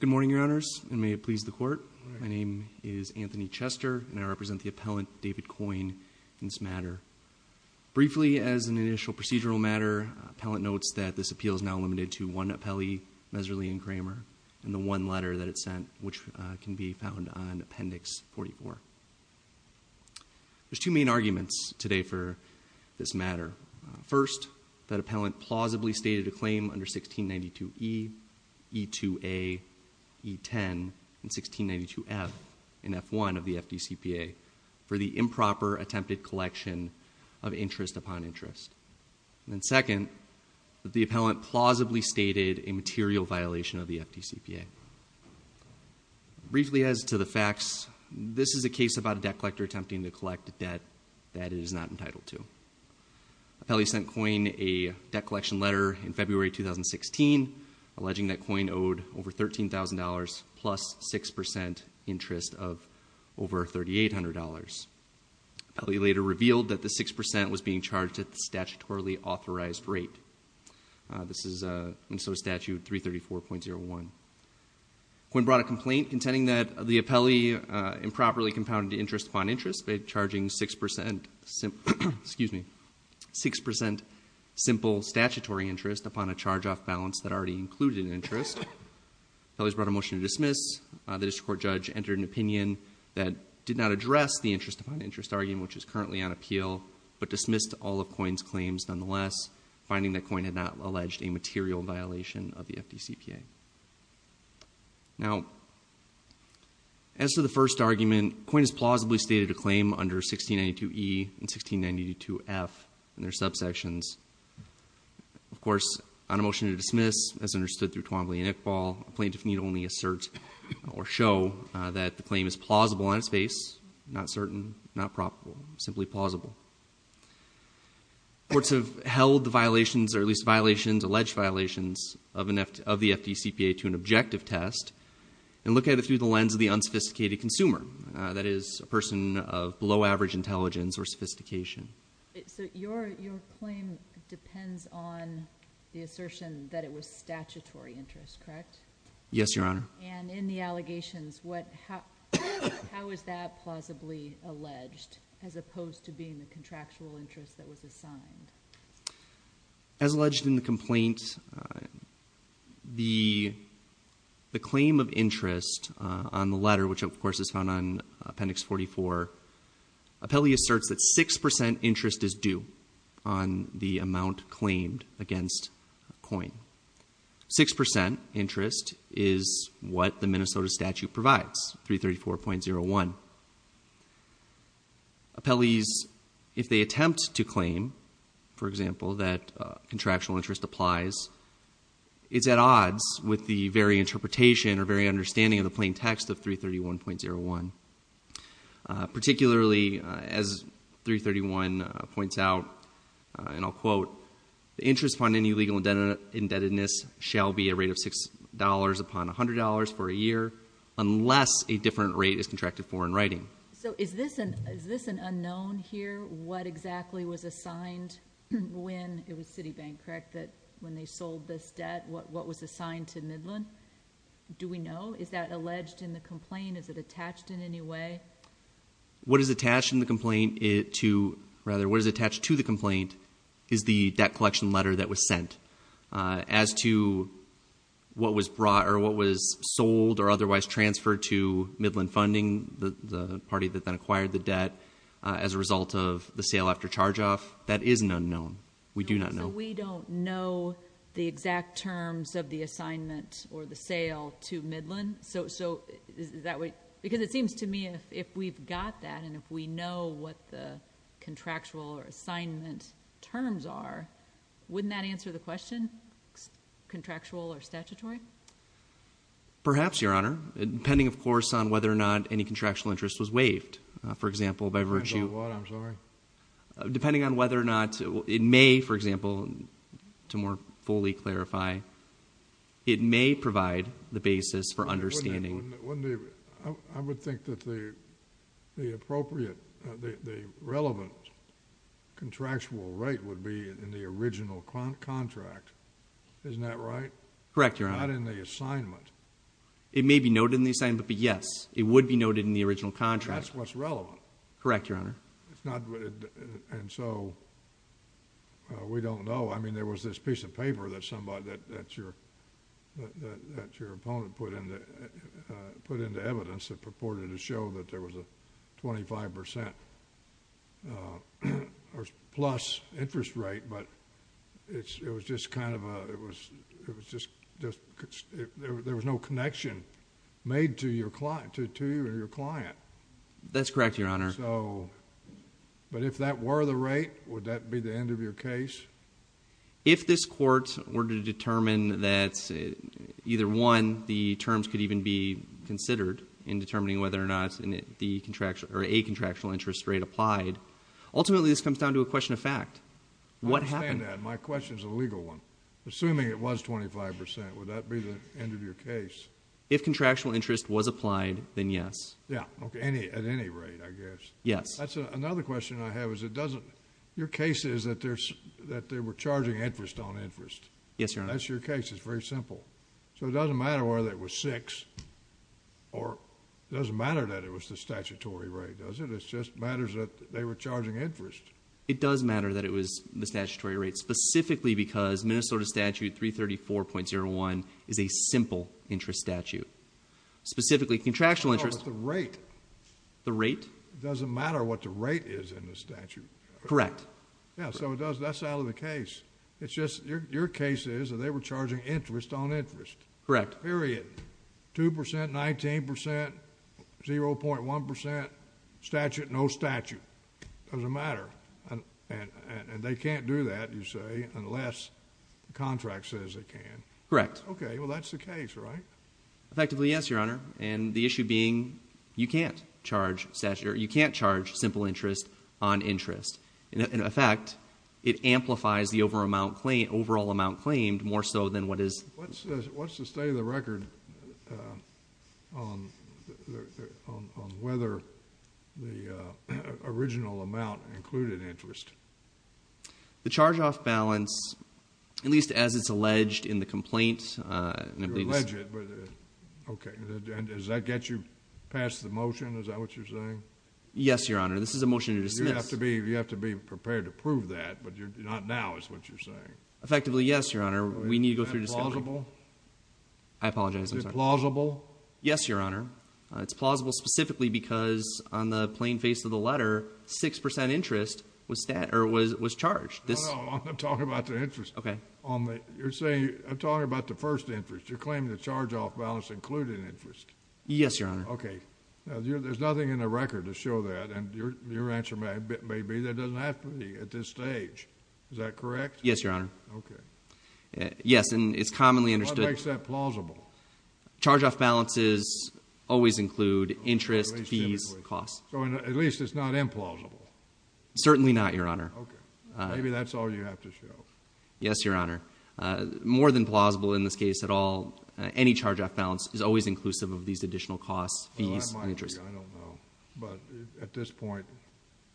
Good morning, Your Honors, and may it please the Court, my name is Anthony Chester, and I represent the appellant, David Coyne, in this matter. Briefly as an initial procedural matter, the appellant notes that this appeal is now limited to one appellee, Messerli & Kramer, and the one letter that it sent, which can be found on Appendix 44. There's two main arguments today for this matter. First, that appellant plausibly stated a claim under 1692E, E2A, E10, and 1692F in F1 of the FDCPA for the improper attempted collection of interest upon interest. And second, that the appellant plausibly stated a material violation of the FDCPA. Briefly, as to the facts, this is a case about a debt collector attempting to collect debt that it is not entitled to. Appellee sent Coyne a debt collection letter in February 2016, alleging that Coyne owed over $13,000 plus 6% interest of over $3,800. Appellee later revealed that the 6% was being charged at the statutorily authorized rate. This is Minnesota Statute 334.01. Coyne brought a complaint contending that the appellee improperly compounded interest upon interest by charging 6% simple statutory interest upon a charge off balance that already included an interest. Appellee has brought a motion to dismiss. The district court judge entered an opinion that did not address the interest upon interest argument, which is currently on appeal, but dismissed all of Coyne's claims nonetheless, finding that Coyne had not alleged a material violation of the FDCPA. Now, as to the first argument, Coyne has plausibly stated a claim under 1692E and 1692F in their subsections. Of course, on a motion to dismiss, as understood through Twombly and Iqbal, a plaintiff need only assert or show that the claim is plausible on its face, not certain, not probable, simply plausible. Courts have held the violations, or at least alleged violations, of the FDCPA to an objective test and look at it through the lens of the unsophisticated consumer, that is, a person of below average intelligence or sophistication. So your claim depends on the assertion that it was statutory interest, correct? Yes, Your Honor. And in the allegations, how is that plausibly alleged, as opposed to being the contractual interest that was assigned? As alleged in the complaint, the claim of interest on the letter, which of course is found on Appendix 44, appellee asserts that 6% interest is due on the amount claimed against Coyne. 6% interest is what the Minnesota statute provides, 334.01. Appellees, if they attempt to claim, for example, that contractual interest applies, it's at odds with the very interpretation or very understanding of the plain text of 331.01. Particularly, as 331.01 points out, and I'll quote, the interest upon any legal indebtedness shall be a rate of $6 upon $100 for a year, unless a different rate is contracted for in writing. So is this an unknown here, what exactly was assigned when, it was Citibank, correct, when they sold this debt, what was assigned to Midland? Do we know? Is that alleged in the complaint? Is it attached in any way? What is attached to the complaint is the debt collection letter that was sent. As to what was sold or otherwise transferred to Midland Funding, the party that then acquired the debt, as a result of the sale after charge-off, that is an unknown. We do not know. So we don't know the exact terms of the assignment or the sale to Midland? Because it seems to me if we've got that and if we know what the contractual or assignment terms are, wouldn't that answer the question, contractual or statutory? Perhaps, Your Honor. Depending, of course, on whether or not any contractual interest was waived. For example, by virtue of... I don't know what, I'm sorry. Depending on whether or not, it may, for example, to more fully clarify, it may provide the understanding. Wouldn't it? Wouldn't it? I would think that the appropriate, the relevant contractual rate would be in the original Isn't that right? Correct, Your Honor. Not in the assignment. It may be noted in the assignment, but yes, it would be noted in the original contract. That's what's relevant. Correct, Your Honor. It's not... and so, we don't know. I mean, there was this piece of paper that your opponent put into evidence that purported to show that there was a 25% plus interest rate, but it was just kind of a... there was no connection made to you or your client. That's correct, Your Honor. So, but if that were the rate, would that be the end of your case? If this court were to determine that either one, the terms could even be considered in determining whether or not a contractual interest rate applied, ultimately, this comes down to a question of fact. What happened? I understand that. My question is a legal one. Assuming it was 25%, would that be the end of your case? If contractual interest was applied, then yes. Yeah. Okay. At any rate, I guess. Yes. That's another question I have, is it doesn't... your case is that they were charging interest on interest. Yes, Your Honor. That's your case. It's very simple. So, it doesn't matter whether it was six, or it doesn't matter that it was the statutory rate, does it? It just matters that they were charging interest. It does matter that it was the statutory rate, specifically because Minnesota Statute 334.01 is a simple interest statute, specifically contractual interest... But the rate... The rate? It doesn't matter what the rate is in the statute. Correct. Yeah. So, that's out of the case. It's just... your case is that they were charging interest on interest. Correct. Period. 2%, 19%, 0.1%. Statute, no statute. It doesn't matter. And they can't do that, you say, unless the contract says they can. Correct. Okay. Well, that's the case, right? Effectively, yes, Your Honor. And the issue being, you can't charge simple interest on interest. In effect, it amplifies the overall amount claimed, more so than what is... What's the state of the record on whether the original amount included interest? The charge-off balance, at least as it's alleged in the complaint... Alleged, but... okay. And does that get you past the motion? Is that what you're saying? Yes, Your Honor. This is a motion to dismiss. You have to be prepared to prove that, but not now is what you're saying. Effectively, yes, Your Honor. We need to go through... Is that plausible? I apologize. I'm sorry. Is it plausible? Yes, Your Honor. It's plausible specifically because, on the plain face of the letter, 6% interest was charged. No, no. I'm talking about the interest. Okay. You're saying... I'm talking about the first interest. You're claiming the charge-off balance included interest. Yes, Your Honor. Okay. Now, there's nothing in the record to show that, and your answer may be that it doesn't have to be at this stage. Is that correct? Yes, Your Honor. Okay. Yes. And it's commonly understood... What makes that plausible? Charge-off balances always include interest, fees, costs. So, at least it's not implausible? Certainly not, Your Honor. Okay. Maybe that's all you have to show. Yes, Your Honor. More than plausible in this case at all, any charge-off balance is always inclusive of these additional costs, fees, and interest. Well, that might be. I don't know. But, at this point,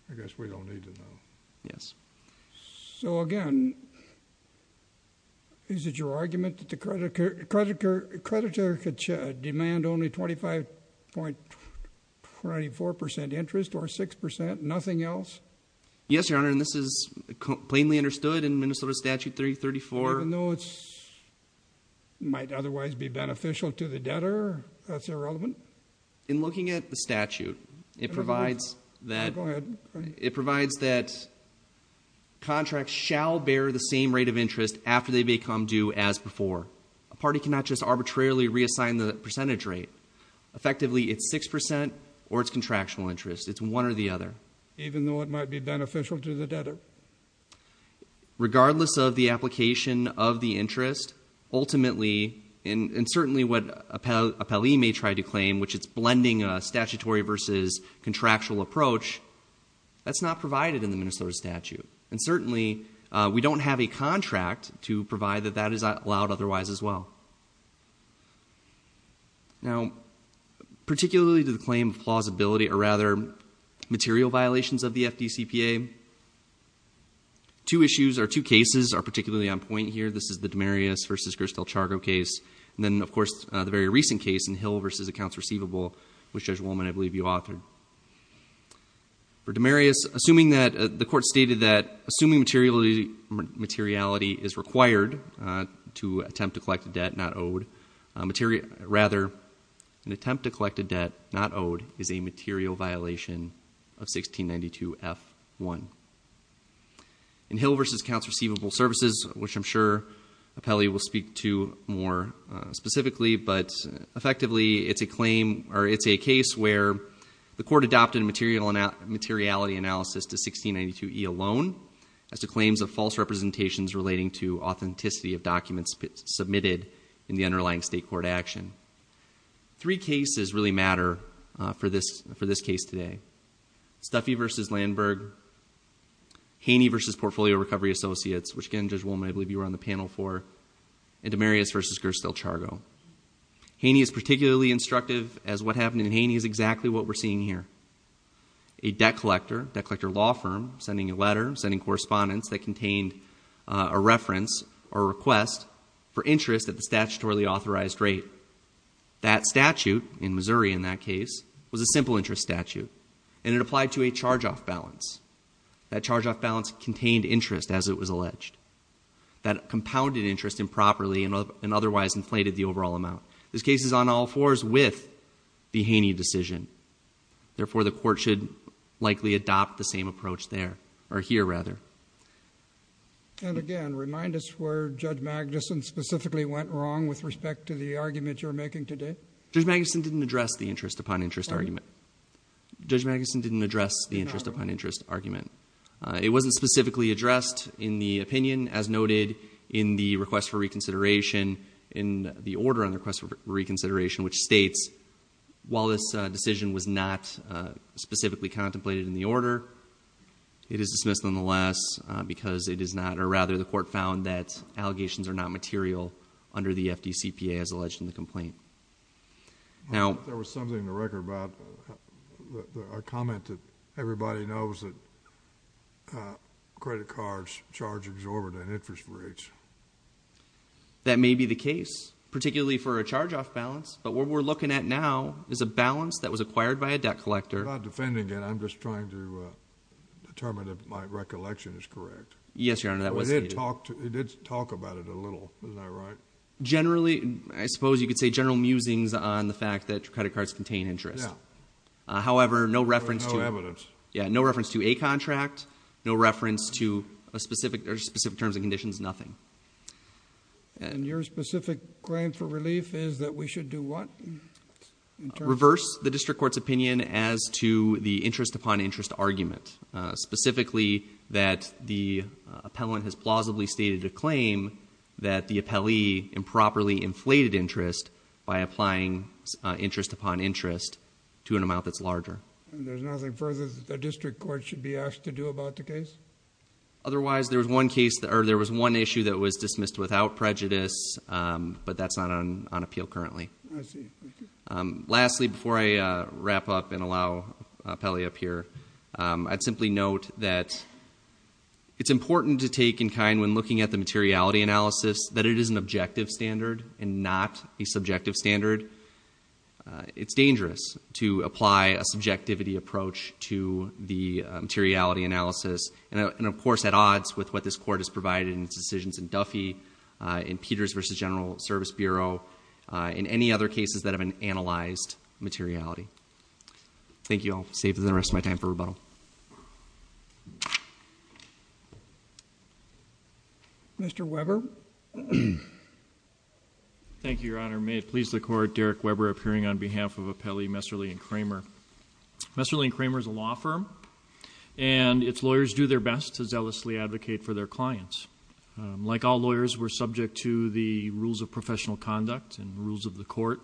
I guess we don't need to know. Yes. So, again, is it your argument that the creditor could demand only 25.24% interest or 6% and nothing else? Yes, Your Honor. And this is plainly understood in Minnesota Statute 334... Even though it might otherwise be beneficial to the debtor, that's irrelevant? In looking at the statute, it provides that... Go ahead. It provides that contracts shall bear the same rate of interest after they become due as before. A party cannot just arbitrarily reassign the percentage rate. Effectively, it's 6% or it's contractual interest. It's one or the other. Even though it might be beneficial to the debtor. Regardless of the application of the interest, ultimately, and certainly what a Pelley may try to claim, which is blending a statutory versus contractual approach, that's not provided in the Minnesota Statute. And certainly, we don't have a contract to provide that that is allowed otherwise as well. Now, particularly to the claim of plausibility or rather material violations of the FDCPA, two issues or two cases are particularly on point here. This is the Demarius v. Gristel-Chargo case and then, of course, the very recent case in Hill v. Accounts Receivable, which Judge Wollman, I believe, you authored. For Demarius, assuming that... the court stated that assuming materiality is required to attempt to collect a debt not owed, rather, an attempt to collect a debt not owed is a material violation of 1692F1. In Hill v. Accounts Receivable Services, which I'm sure Pelley will speak to more specifically, but effectively, it's a claim or it's a case where the court adopted a materiality analysis to 1692E alone as to claims of false representations relating to authenticity of documents submitted in the underlying state court action. Three cases really matter for this case today. Stuffy v. Landberg, Haney v. Portfolio Recovery Associates, which again, Judge Wollman, I believe you were on the panel for, and Demarius v. Gristel-Chargo. Haney is particularly instructive as what happened in Haney is exactly what we're seeing here. A debt collector, debt collector law firm, sending a letter, sending correspondence that contained a reference or request for interest at the statutorily authorized rate. That statute, in Missouri in that case, was a simple interest statute and it applied to a charge-off balance. That charge-off balance contained interest as it was alleged. That compounded interest improperly and otherwise inflated the overall amount. This case is on all fours with the Haney decision. Therefore, the court should likely adopt the same approach there, or here rather. And again, remind us where Judge Magnuson specifically went wrong with respect to the argument you're making today. Judge Magnuson didn't address the interest upon interest argument. Judge Magnuson didn't address the interest upon interest argument. It wasn't specifically addressed in the opinion as noted in the request for reconsideration in the order on the request for reconsideration, which states while this decision was not specifically contemplated in the order, it is dismissed nonetheless because it is not, or rather the court found that allegations are not material under the FDCPA as alleged in the complaint. Now- There was something in the record about a comment that everybody knows that credit cards charge exorbitant interest rates. That may be the case, particularly for a charge-off balance, but what we're looking at now is a balance that was acquired by a debt collector- I'm not defending it. I'm just trying to determine if my recollection is correct. Yes, Your Honor. That was stated. It did talk about it a little. Isn't that right? Generally, I suppose you could say general musings on the fact that credit cards contain interest. Yeah. However, no reference to- No evidence. Yeah. No reference to a contract. No reference to specific terms and conditions, nothing. Your specific claim for relief is that we should do what in terms of- Reverse the district court's opinion as to the interest upon interest argument, specifically that the appellant has plausibly stated a claim that the appellee improperly inflated interest by applying interest upon interest to an amount that's larger. There's nothing further that the district court should be asked to do about the case? Otherwise, there was one issue that was dismissed without prejudice, but that's not on appeal currently. I see. Thank you. Lastly, before I wrap up and allow Pelley up here, I'd simply note that it's important to take in kind when looking at the materiality analysis that it is an objective standard and not a subjective standard. It's dangerous to apply a subjectivity approach to the materiality analysis and of course at odds with what this court has provided in its decisions in Duffy, in Peters v. General Service Bureau, in any other cases that have been analyzed materiality. Thank you all. I'll save the rest of my time for rebuttal. Mr. Weber. Thank you, Your Honor. May it please the Court, Derek Weber appearing on behalf of Appellee Messerly and Kramer. Messerly and Kramer is a law firm, and its lawyers do their best to zealously advocate for their clients. Like all lawyers, we're subject to the rules of professional conduct and rules of the court,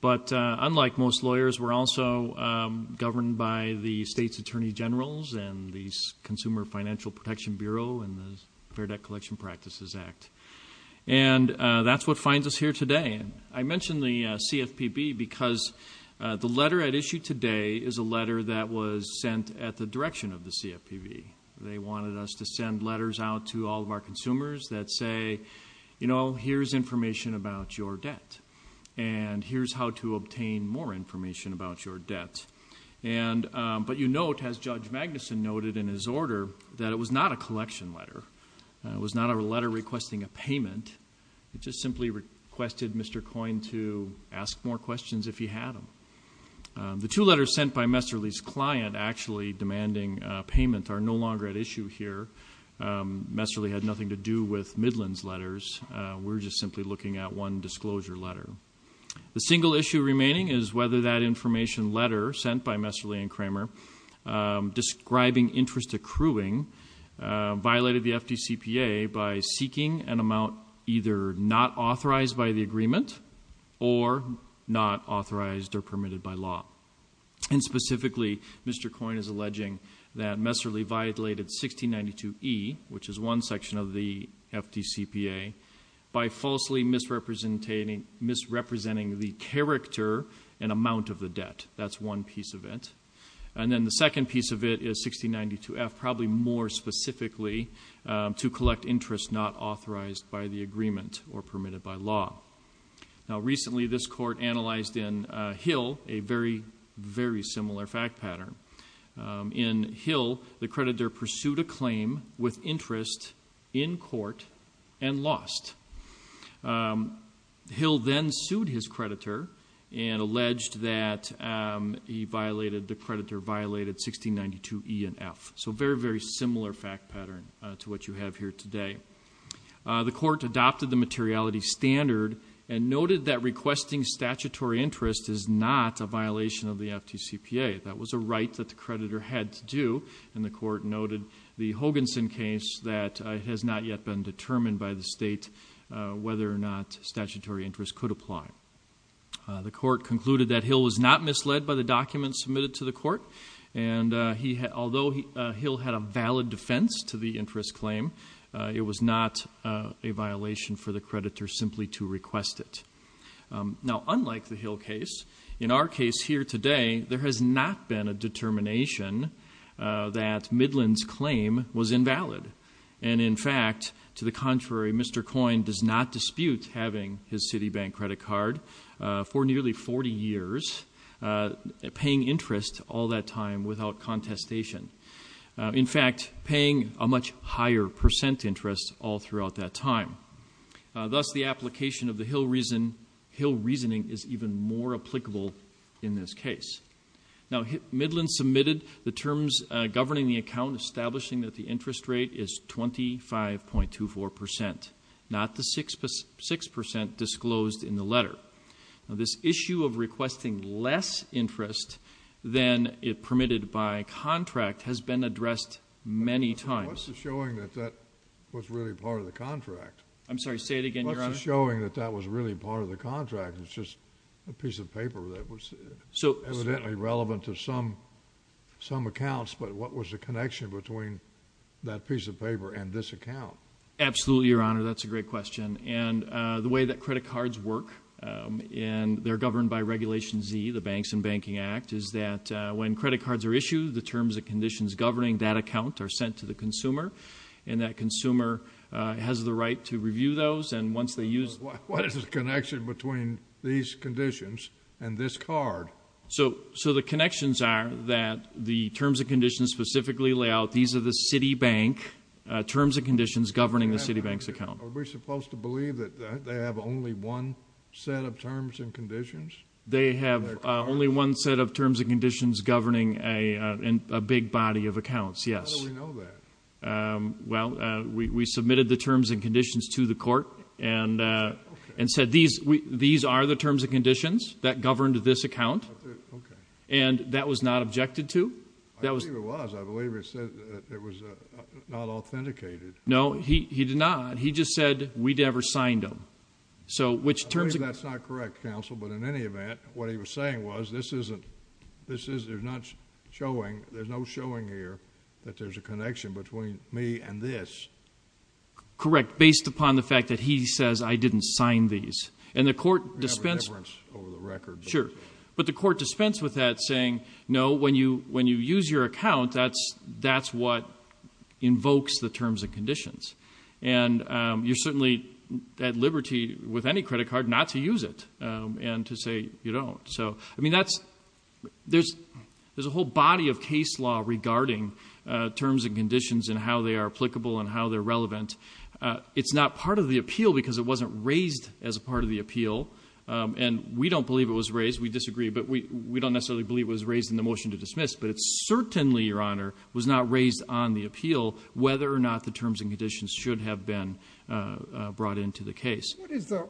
but unlike most lawyers, we're also governed by the state's attorney generals and the Consumer Financial Protection Bureau and the Fair Debt Collection Practices Act. And that's what finds us here today. I mentioned the CFPB because the letter at issue today is a letter that was sent at the direction of the CFPB. They wanted us to send letters out to all of our consumers that say, you know, here's information about your debt, and here's how to obtain more information about your debt. But you note, as Judge Magnuson noted in his order, that it was not a collection letter. It was not a letter requesting a payment. It just simply requested Mr. Coyne to ask more questions if he had them. The two letters sent by Messerly's client actually demanding payment are no longer at issue here. Messerly had nothing to do with Midland's letters. We're just simply looking at one disclosure letter. The single issue remaining is whether that information letter sent by Messerly and Kramer describing interest accruing violated the FDCPA by seeking an amount either not authorized by the agreement or not authorized or permitted by law. And specifically, Mr. Coyne is alleging that Messerly violated 1692E, which is one section of the FDCPA, by falsely misrepresenting the character and amount of the debt. That's one piece of it. And then the second piece of it is 1692F, probably more specifically, to collect interest not authorized by the agreement or permitted by law. Now recently this court analyzed in Hill a very, very similar fact pattern. In Hill, the creditor pursued a claim with interest in court and lost. Hill then sued his creditor and alleged that the creditor violated 1692E and F. So very, very similar fact pattern to what you have here today. The court adopted the materiality standard and noted that requesting statutory interest is not a violation of the FDCPA. That was a right that the creditor had to do, and the court noted the Hoganson case that has not yet been determined by the state whether or not statutory interest could apply. The court concluded that Hill was not misled by the documents submitted to the court, and although Hill had a valid defense to the interest claim, it was not a violation for the creditor simply to request it. Now, unlike the Hill case, in our case here today, there has not been a determination that Midland's claim was invalid. And in fact, to the contrary, Mr. Coyne does not dispute having his Citibank credit card for nearly 40 years, paying interest all that time without contestation. In fact, paying a much higher percent interest all throughout that time. Thus the application of the Hill reasoning is even more applicable in this case. Now, Midland submitted the terms governing the account establishing that the interest rate is 25.24%, not the 6% disclosed in the letter. This issue of requesting less interest than it permitted by contract has been addressed many times. What's the showing that that was really part of the contract? I'm sorry, say it again, Your Honor. What's the showing that that was really part of the contract? It's just a piece of paper that was evidently relevant to some accounts, but what was the connection between that piece of paper and this account? Absolutely, Your Honor. That's a great question. And the way that credit cards work, and they're governed by Regulation Z, the Banks and Banking Act, is that when credit cards are issued, the terms and conditions governing that account are sent to the consumer, and that consumer has the right to review those. What is the connection between these conditions and this card? So the connections are that the terms and conditions specifically lay out, these are the Citibank terms and conditions governing the Citibank's account. Are we supposed to believe that they have only one set of terms and conditions? They have only one set of terms and conditions governing a big body of accounts, yes. How do we know that? Well, we submitted the terms and conditions to the Court, and said these are the terms and conditions that governed this account, and that was not objected to. I believe it was. I believe it said that it was not authenticated. No, he did not. He just said we never signed them. So which terms... I believe that's not correct, Counsel, but in any event, what he was saying was, this between me and this... Correct, based upon the fact that he says, I didn't sign these. And the Court dispensed... We have a difference over the records. Sure. But the Court dispensed with that, saying, no, when you use your account, that's what invokes the terms and conditions. And you're certainly at liberty with any credit card not to use it, and to say you don't. So, I mean, that's... there's a whole body of case law regarding terms and conditions and how they are applicable and how they're relevant. It's not part of the appeal, because it wasn't raised as a part of the appeal, and we don't believe it was raised. We disagree. But we don't necessarily believe it was raised in the motion to dismiss, but it certainly, Your Honor, was not raised on the appeal, whether or not the terms and conditions should have been brought into the case. What is the... it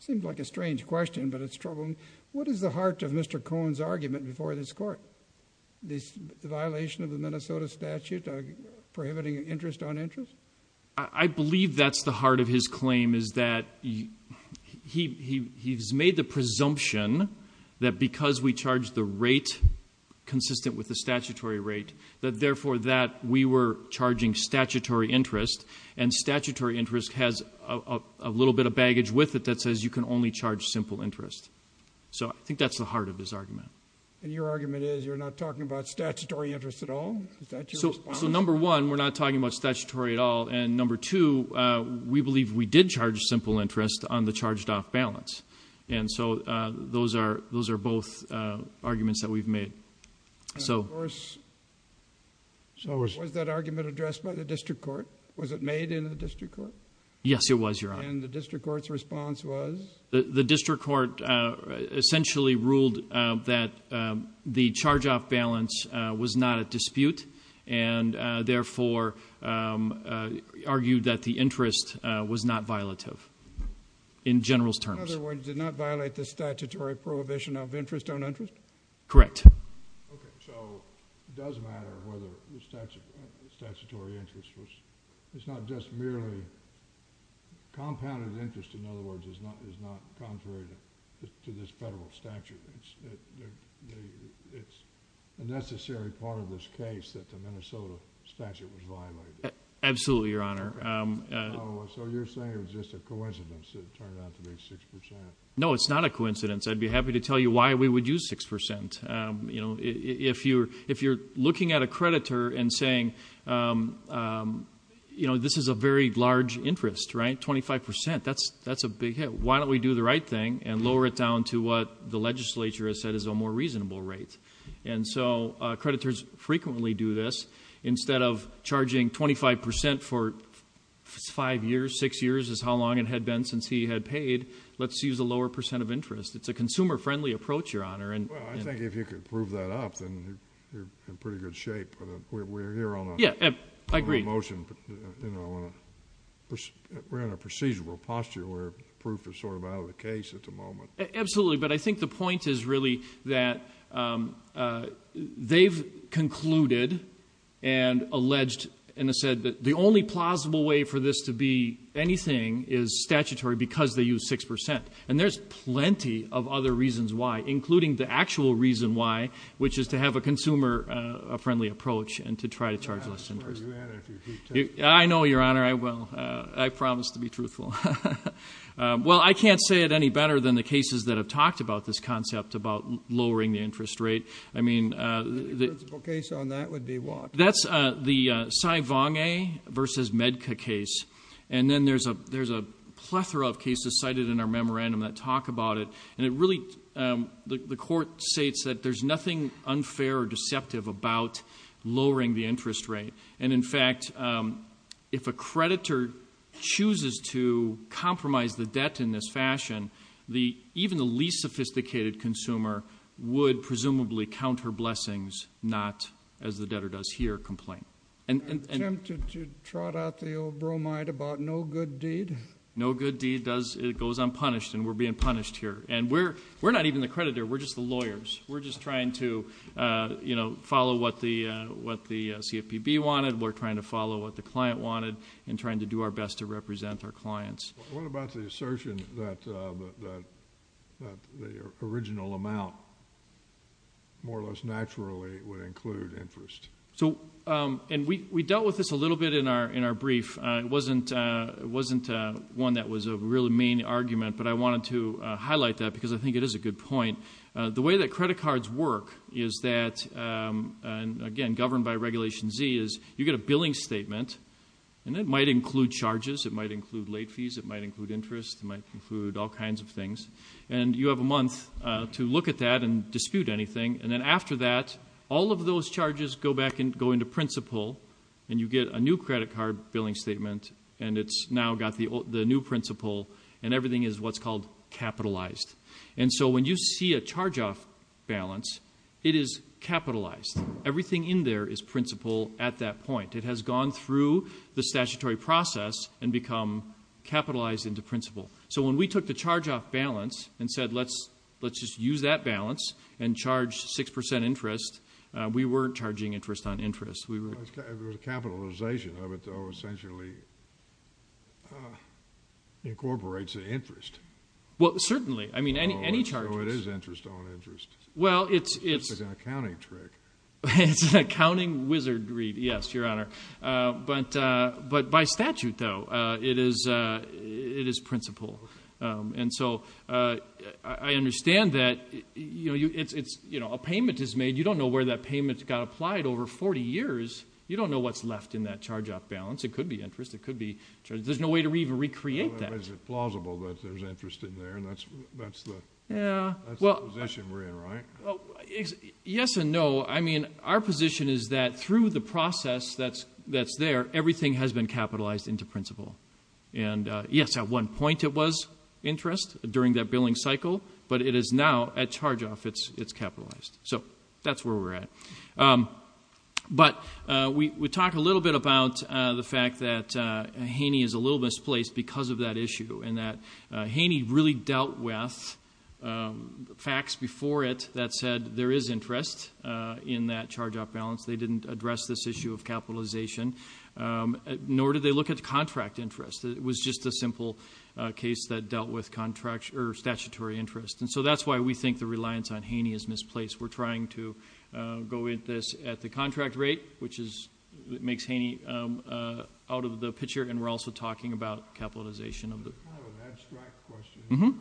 seems like a strange question, but it's troubling. What is the heart of Mr. Cohen's argument before this Court? The violation of the Minnesota statute prohibiting interest on interest? I believe that's the heart of his claim, is that he's made the presumption that because we charged the rate consistent with the statutory rate, that therefore, that we were charging statutory interest, and statutory interest has a little bit of baggage with it that says you can only charge simple interest. So I think that's the heart of his argument. And your argument is you're not talking about statutory interest at all? Is that your response? So, number one, we're not talking about statutory at all, and number two, we believe we did charge simple interest on the charged-off balance. And so those are both arguments that we've made. And of course, was that argument addressed by the District Court? Was it made in the District Court? Yes, it was, Your Honor. And the District Court's response was? The District Court essentially ruled that the charge-off balance was not at dispute, and therefore, argued that the interest was not violative in general's terms. In other words, did not violate the statutory prohibition of interest on interest? Correct. Okay. So it does matter whether the statutory interest was... it's not just merely... compounded interest, in other words, is not contrary to this federal statute. It's a necessary part of this case that the Minnesota statute was violated. Absolutely, Your Honor. So you're saying it was just a coincidence that it turned out to be 6 percent? No, it's not a coincidence. It's a fact. It's a fact. It's a fact. It's a fact. It's a fact. It's a fact. So why wouldn't we charge 25 percent? You know, if you're looking at a creditor and saying, you know, this is a very large interest, right, 25 percent, that's a big hit. Why don't we do the right thing and lower it down to what the legislature has said is a more reasonable rate? And so creditors frequently do this, instead of charging 25 percent for five years, six years is how long it had been since he had paid, let's use a lower percent of interest. It's a consumer-friendly approach, Your Honor. Well, I think if you could prove that up, then you're in pretty good shape. We're here on a motion. Yeah, I agree. You know, we're in a procedural posture where proof is sort of out of the case at the moment. Absolutely. But I think the point is really that they've concluded and alleged and said that the only plausible way for this to be anything is statutory because they used six percent. And there's plenty of other reasons why, including the actual reason why, which is to have a consumer-friendly approach and to try to charge less interest. I know, Your Honor, I will. I promise to be truthful. Well, I can't say it any better than the cases that have talked about this concept about lowering the interest rate. I mean, the principal case on that would be what? That's the Cy Vong A versus Medca case. And then there's a plethora of cases cited in our memorandum that talk about it. And it really, the court states that there's nothing unfair or deceptive about lowering the interest rate. And in fact, if a creditor chooses to compromise the debt in this fashion, even the least sophisticated consumer would presumably count her blessings, not, as the debtor does here, complain. An attempt to trot out the old bromide about no good deed? No good deed does, it goes unpunished, and we're being punished here. And we're not even the creditor, we're just the lawyers. We're just trying to, you know, follow what the CFPB wanted. We're trying to follow what the client wanted and trying to do our best to represent our clients. What about the assertion that the original amount, more or less naturally, would include interest? So, and we dealt with this a little bit in our brief. It wasn't one that was a really main argument, but I wanted to highlight that because I think it is a good point. The way that credit cards work is that, and again, governed by Regulation Z, is you get a billing statement. And it might include charges, it might include late fees, it might include interest, it might include all kinds of things. And you have a month to look at that and dispute anything. And then after that, all of those charges go back and go into principal. And you get a new credit card billing statement, and it's now got the new principal, and everything is what's called capitalized. And so when you see a charge-off balance, it is capitalized. Everything in there is principal at that point. It has gone through the statutory process and become capitalized into principal. So when we took the charge-off balance and said, let's just use that balance and charge 6% interest, we weren't charging interest on interest. We were- It was capitalization of it, though, essentially incorporates the interest. Well, certainly. I mean, any charges- No, it is interest on interest. Well, it's- It's just an accounting trick. It's an accounting wizardry, yes, Your Honor. But by statute, though, it is principal. And so I understand that a payment is made. You don't know where that payment got applied over 40 years. You don't know what's left in that charge-off balance. It could be interest. It could be- There's no way to even recreate that. Well, is it plausible that there's interest in there? And that's the position we're in, right? Yes and no. So, I mean, our position is that through the process that's there, everything has been capitalized into principal. And yes, at one point it was interest during that billing cycle, but it is now, at charge-off, it's capitalized. So that's where we're at. But we talked a little bit about the fact that Haney is a little misplaced because of that issue. And that Haney really dealt with facts before it that said there is interest in that charge-off balance. They didn't address this issue of capitalization, nor did they look at the contract interest. It was just a simple case that dealt with statutory interest. And so that's why we think the reliance on Haney is misplaced. We're trying to go at this at the contract rate, which makes Haney out of the picture. And we're also talking about capitalization of the- I have an abstract question. Mm-hm.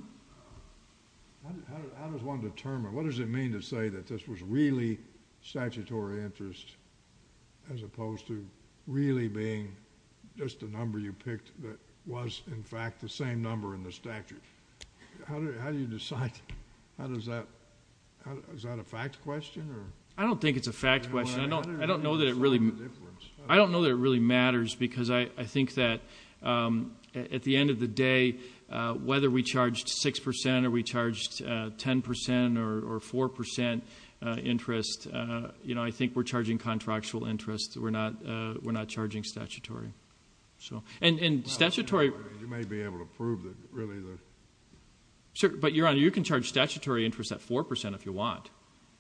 How does one determine, what does it mean to say that this was really statutory interest, as opposed to really being just a number you picked that was, in fact, the same number in the statute? How do you decide? How does that, is that a fact question, or? I don't think it's a fact question. I don't know that it really matters. Because I think that at the end of the day, whether we charged 6%, or we charged 10%, or 4% interest, I think we're charging contractual interest. We're not charging statutory. So, and statutory- You may be able to prove that it really is. Sir, but Your Honor, you can charge statutory interest at 4% if you want.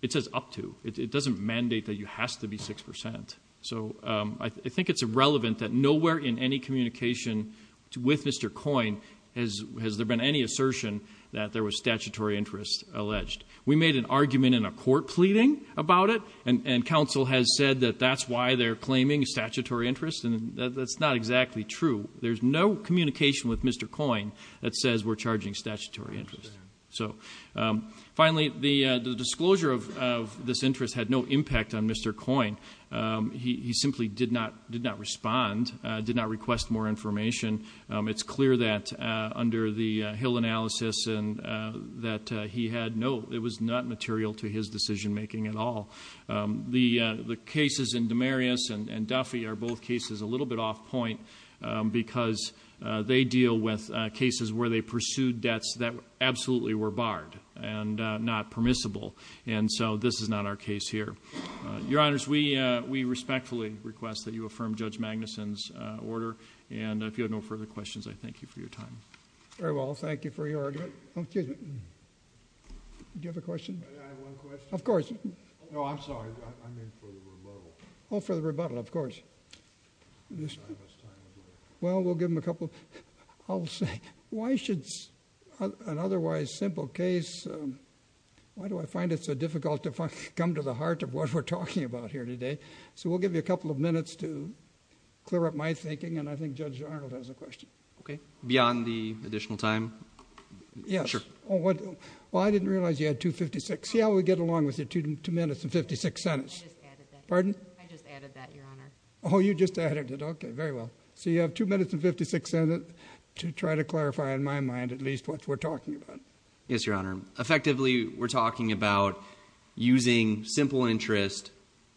It says up to. It doesn't mandate that you have to be 6%. So, I think it's irrelevant that nowhere in any communication with Mr. Coyne has there been any assertion that there was statutory interest alleged. We made an argument in a court pleading about it, and council has said that that's why they're claiming statutory interest, and that's not exactly true. There's no communication with Mr. Coyne that says we're charging statutory interest. So, finally, the disclosure of this interest had no impact on Mr. Coyne, he simply did not respond, did not request more information. It's clear that under the Hill analysis and that he had no, it was not material to his decision making at all. The cases in Demarius and Duffy are both cases a little bit off point, because they deal with cases where they pursued debts that absolutely were barred and not permissible. And so, this is not our case here. Your Honors, we respectfully request that you affirm Judge Magnuson's order. And if you have no further questions, I thank you for your time. Very well, thank you for your argument. Oh, excuse me, do you have a question? May I have one question? Of course. No, I'm sorry, I'm in for the rebuttal. Oh, for the rebuttal, of course. Well, we'll give him a couple. I'll say, why should an otherwise simple case, why do I find it so difficult to come to the heart of what we're talking about here today? So, we'll give you a couple of minutes to clear up my thinking, and I think Judge Arnold has a question. Okay, beyond the additional time, sure. Yes, well, I didn't realize you had 2 minutes and 56 seconds. Yeah, we'll get along with it, two minutes and 56 seconds. I just added that. Pardon? I just added that, Your Honor. You just added it, okay, very well. So, you have two minutes and 56 seconds to try to clarify in my mind at least what we're talking about. Yes, Your Honor. Effectively, we're talking about using simple interest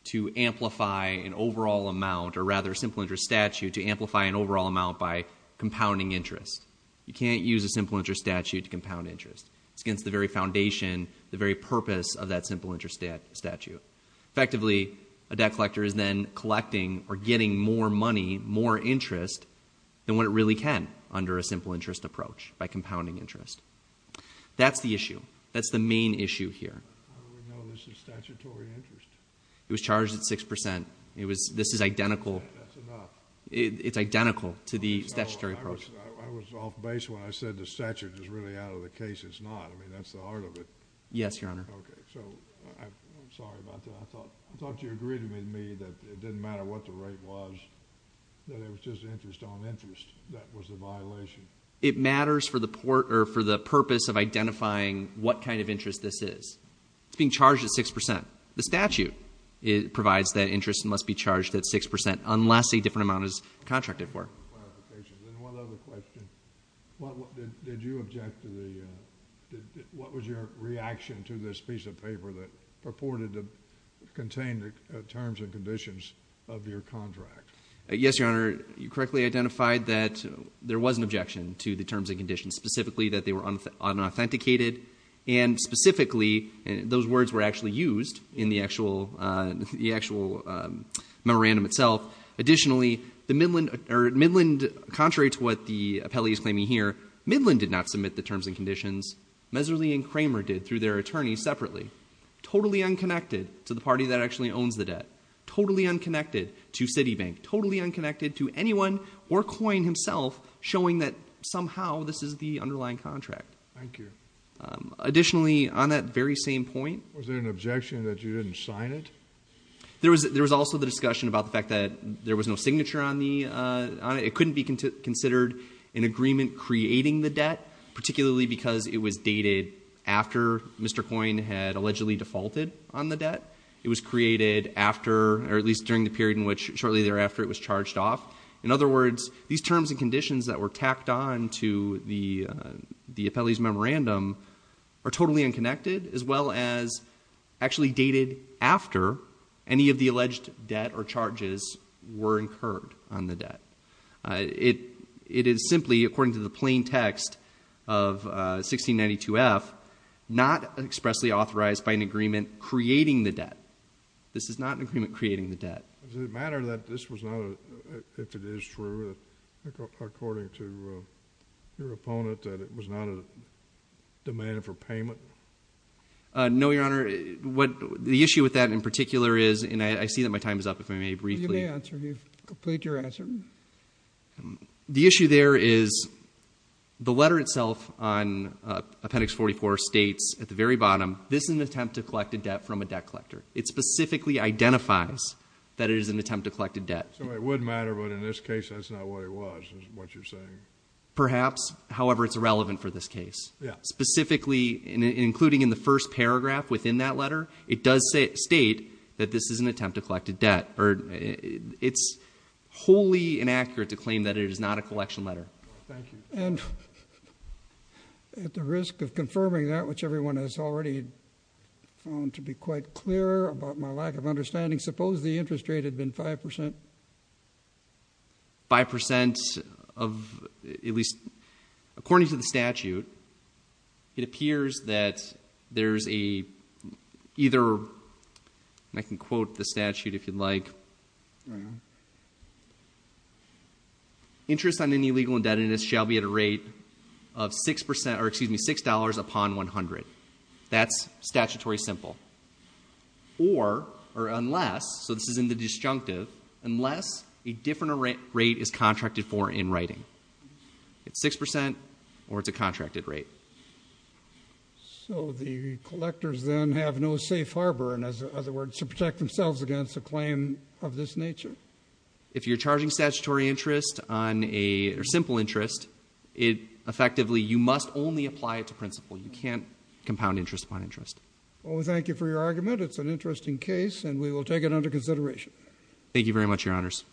to amplify an overall amount, or rather simple interest statute to amplify an overall amount by compounding interest. You can't use a simple interest statute to compound interest. It's against the very foundation, the very purpose of that simple interest statute. Effectively, a debt collector is then collecting or getting more money, more interest than what it really can under a simple interest approach by compounding interest. That's the issue. That's the main issue here. I would know this is statutory interest. It was charged at 6%. It was, this is identical. That's enough. It's identical to the statutory approach. I was off base when I said the statute is really out of the case. It's not. I mean, that's the heart of it. Yes, Your Honor. Okay, so, I'm sorry about that. I thought you agreed with me that it didn't matter what the rate was, that it was just interest on interest that was the violation. It matters for the purpose of identifying what kind of interest this is. It's being charged at 6%. The statute provides that interest must be charged at 6% unless a different amount is contracted for. One other question. Did you object to the, what was your reaction to this piece of paper that purported to contain the terms and conditions of your contract? Yes, Your Honor. You correctly identified that there was an objection to the terms and conditions, specifically that they were unauthenticated. And specifically, those words were actually used in the actual memorandum itself. Additionally, the Midland, or Midland, contrary to what the appellee is claiming here, Midland did not submit the terms and conditions. Meserly and Kramer did through their attorneys separately. Totally unconnected to the party that actually owns the debt. Totally unconnected to Citibank. Totally unconnected to anyone or Coyne himself, showing that somehow this is the underlying contract. Thank you. Additionally, on that very same point. Was there an objection that you didn't sign it? There was also the discussion about the fact that there was no signature on it. It couldn't be considered an agreement creating the debt. Particularly because it was dated after Mr. Coyne had allegedly defaulted on the debt. It was created after, or at least during the period in which shortly thereafter it was charged off. In other words, these terms and conditions that were tacked on to the appellee's memorandum are totally unconnected, as well as actually dated after any of the alleged debt or charges were incurred on the debt. It is simply, according to the plain text of 1692F, not expressly authorized by an agreement creating the debt. This is not an agreement creating the debt. Does it matter that this was not, if it is true, according to your opponent, that it was not a demand for payment? No, Your Honor. The issue with that in particular is, and I see that my time is up, if I may briefly- You may answer. Complete your answer. The issue there is the letter itself on Appendix 44 states at the very bottom, this is an attempt to collect a debt from a debt collector. It specifically identifies that it is an attempt to collect a debt. So it would matter, but in this case, that's not what it was, is what you're saying. Perhaps, however, it's irrelevant for this case. Specifically, including in the first paragraph within that letter, it does state that this is an attempt to collect a debt. It's wholly inaccurate to claim that it is not a collection letter. Thank you. And at the risk of confirming that, which everyone has already found to be quite clear about my lack of understanding, suppose the interest rate had been 5%? 5% of, at least, according to the statute, it appears that there's a either, and I can quote the statute if you'd like. Right on. Interest on any legal indebtedness shall be at a rate of 6% or excuse me, $6 upon 100. That's statutory simple. Or, or unless, so this is in the disjunctive, unless a different rate is contracted for in writing. It's 6% or it's a contracted rate. So the collectors then have no safe harbor, in other words, to protect themselves against a claim of this nature? If you're charging statutory interest on a, or simple interest, it effectively, you must only apply it to principal. You can't compound interest upon interest. Well, thank you for your argument. It's an interesting case, and we will take it under consideration. Thank you very much, your honors.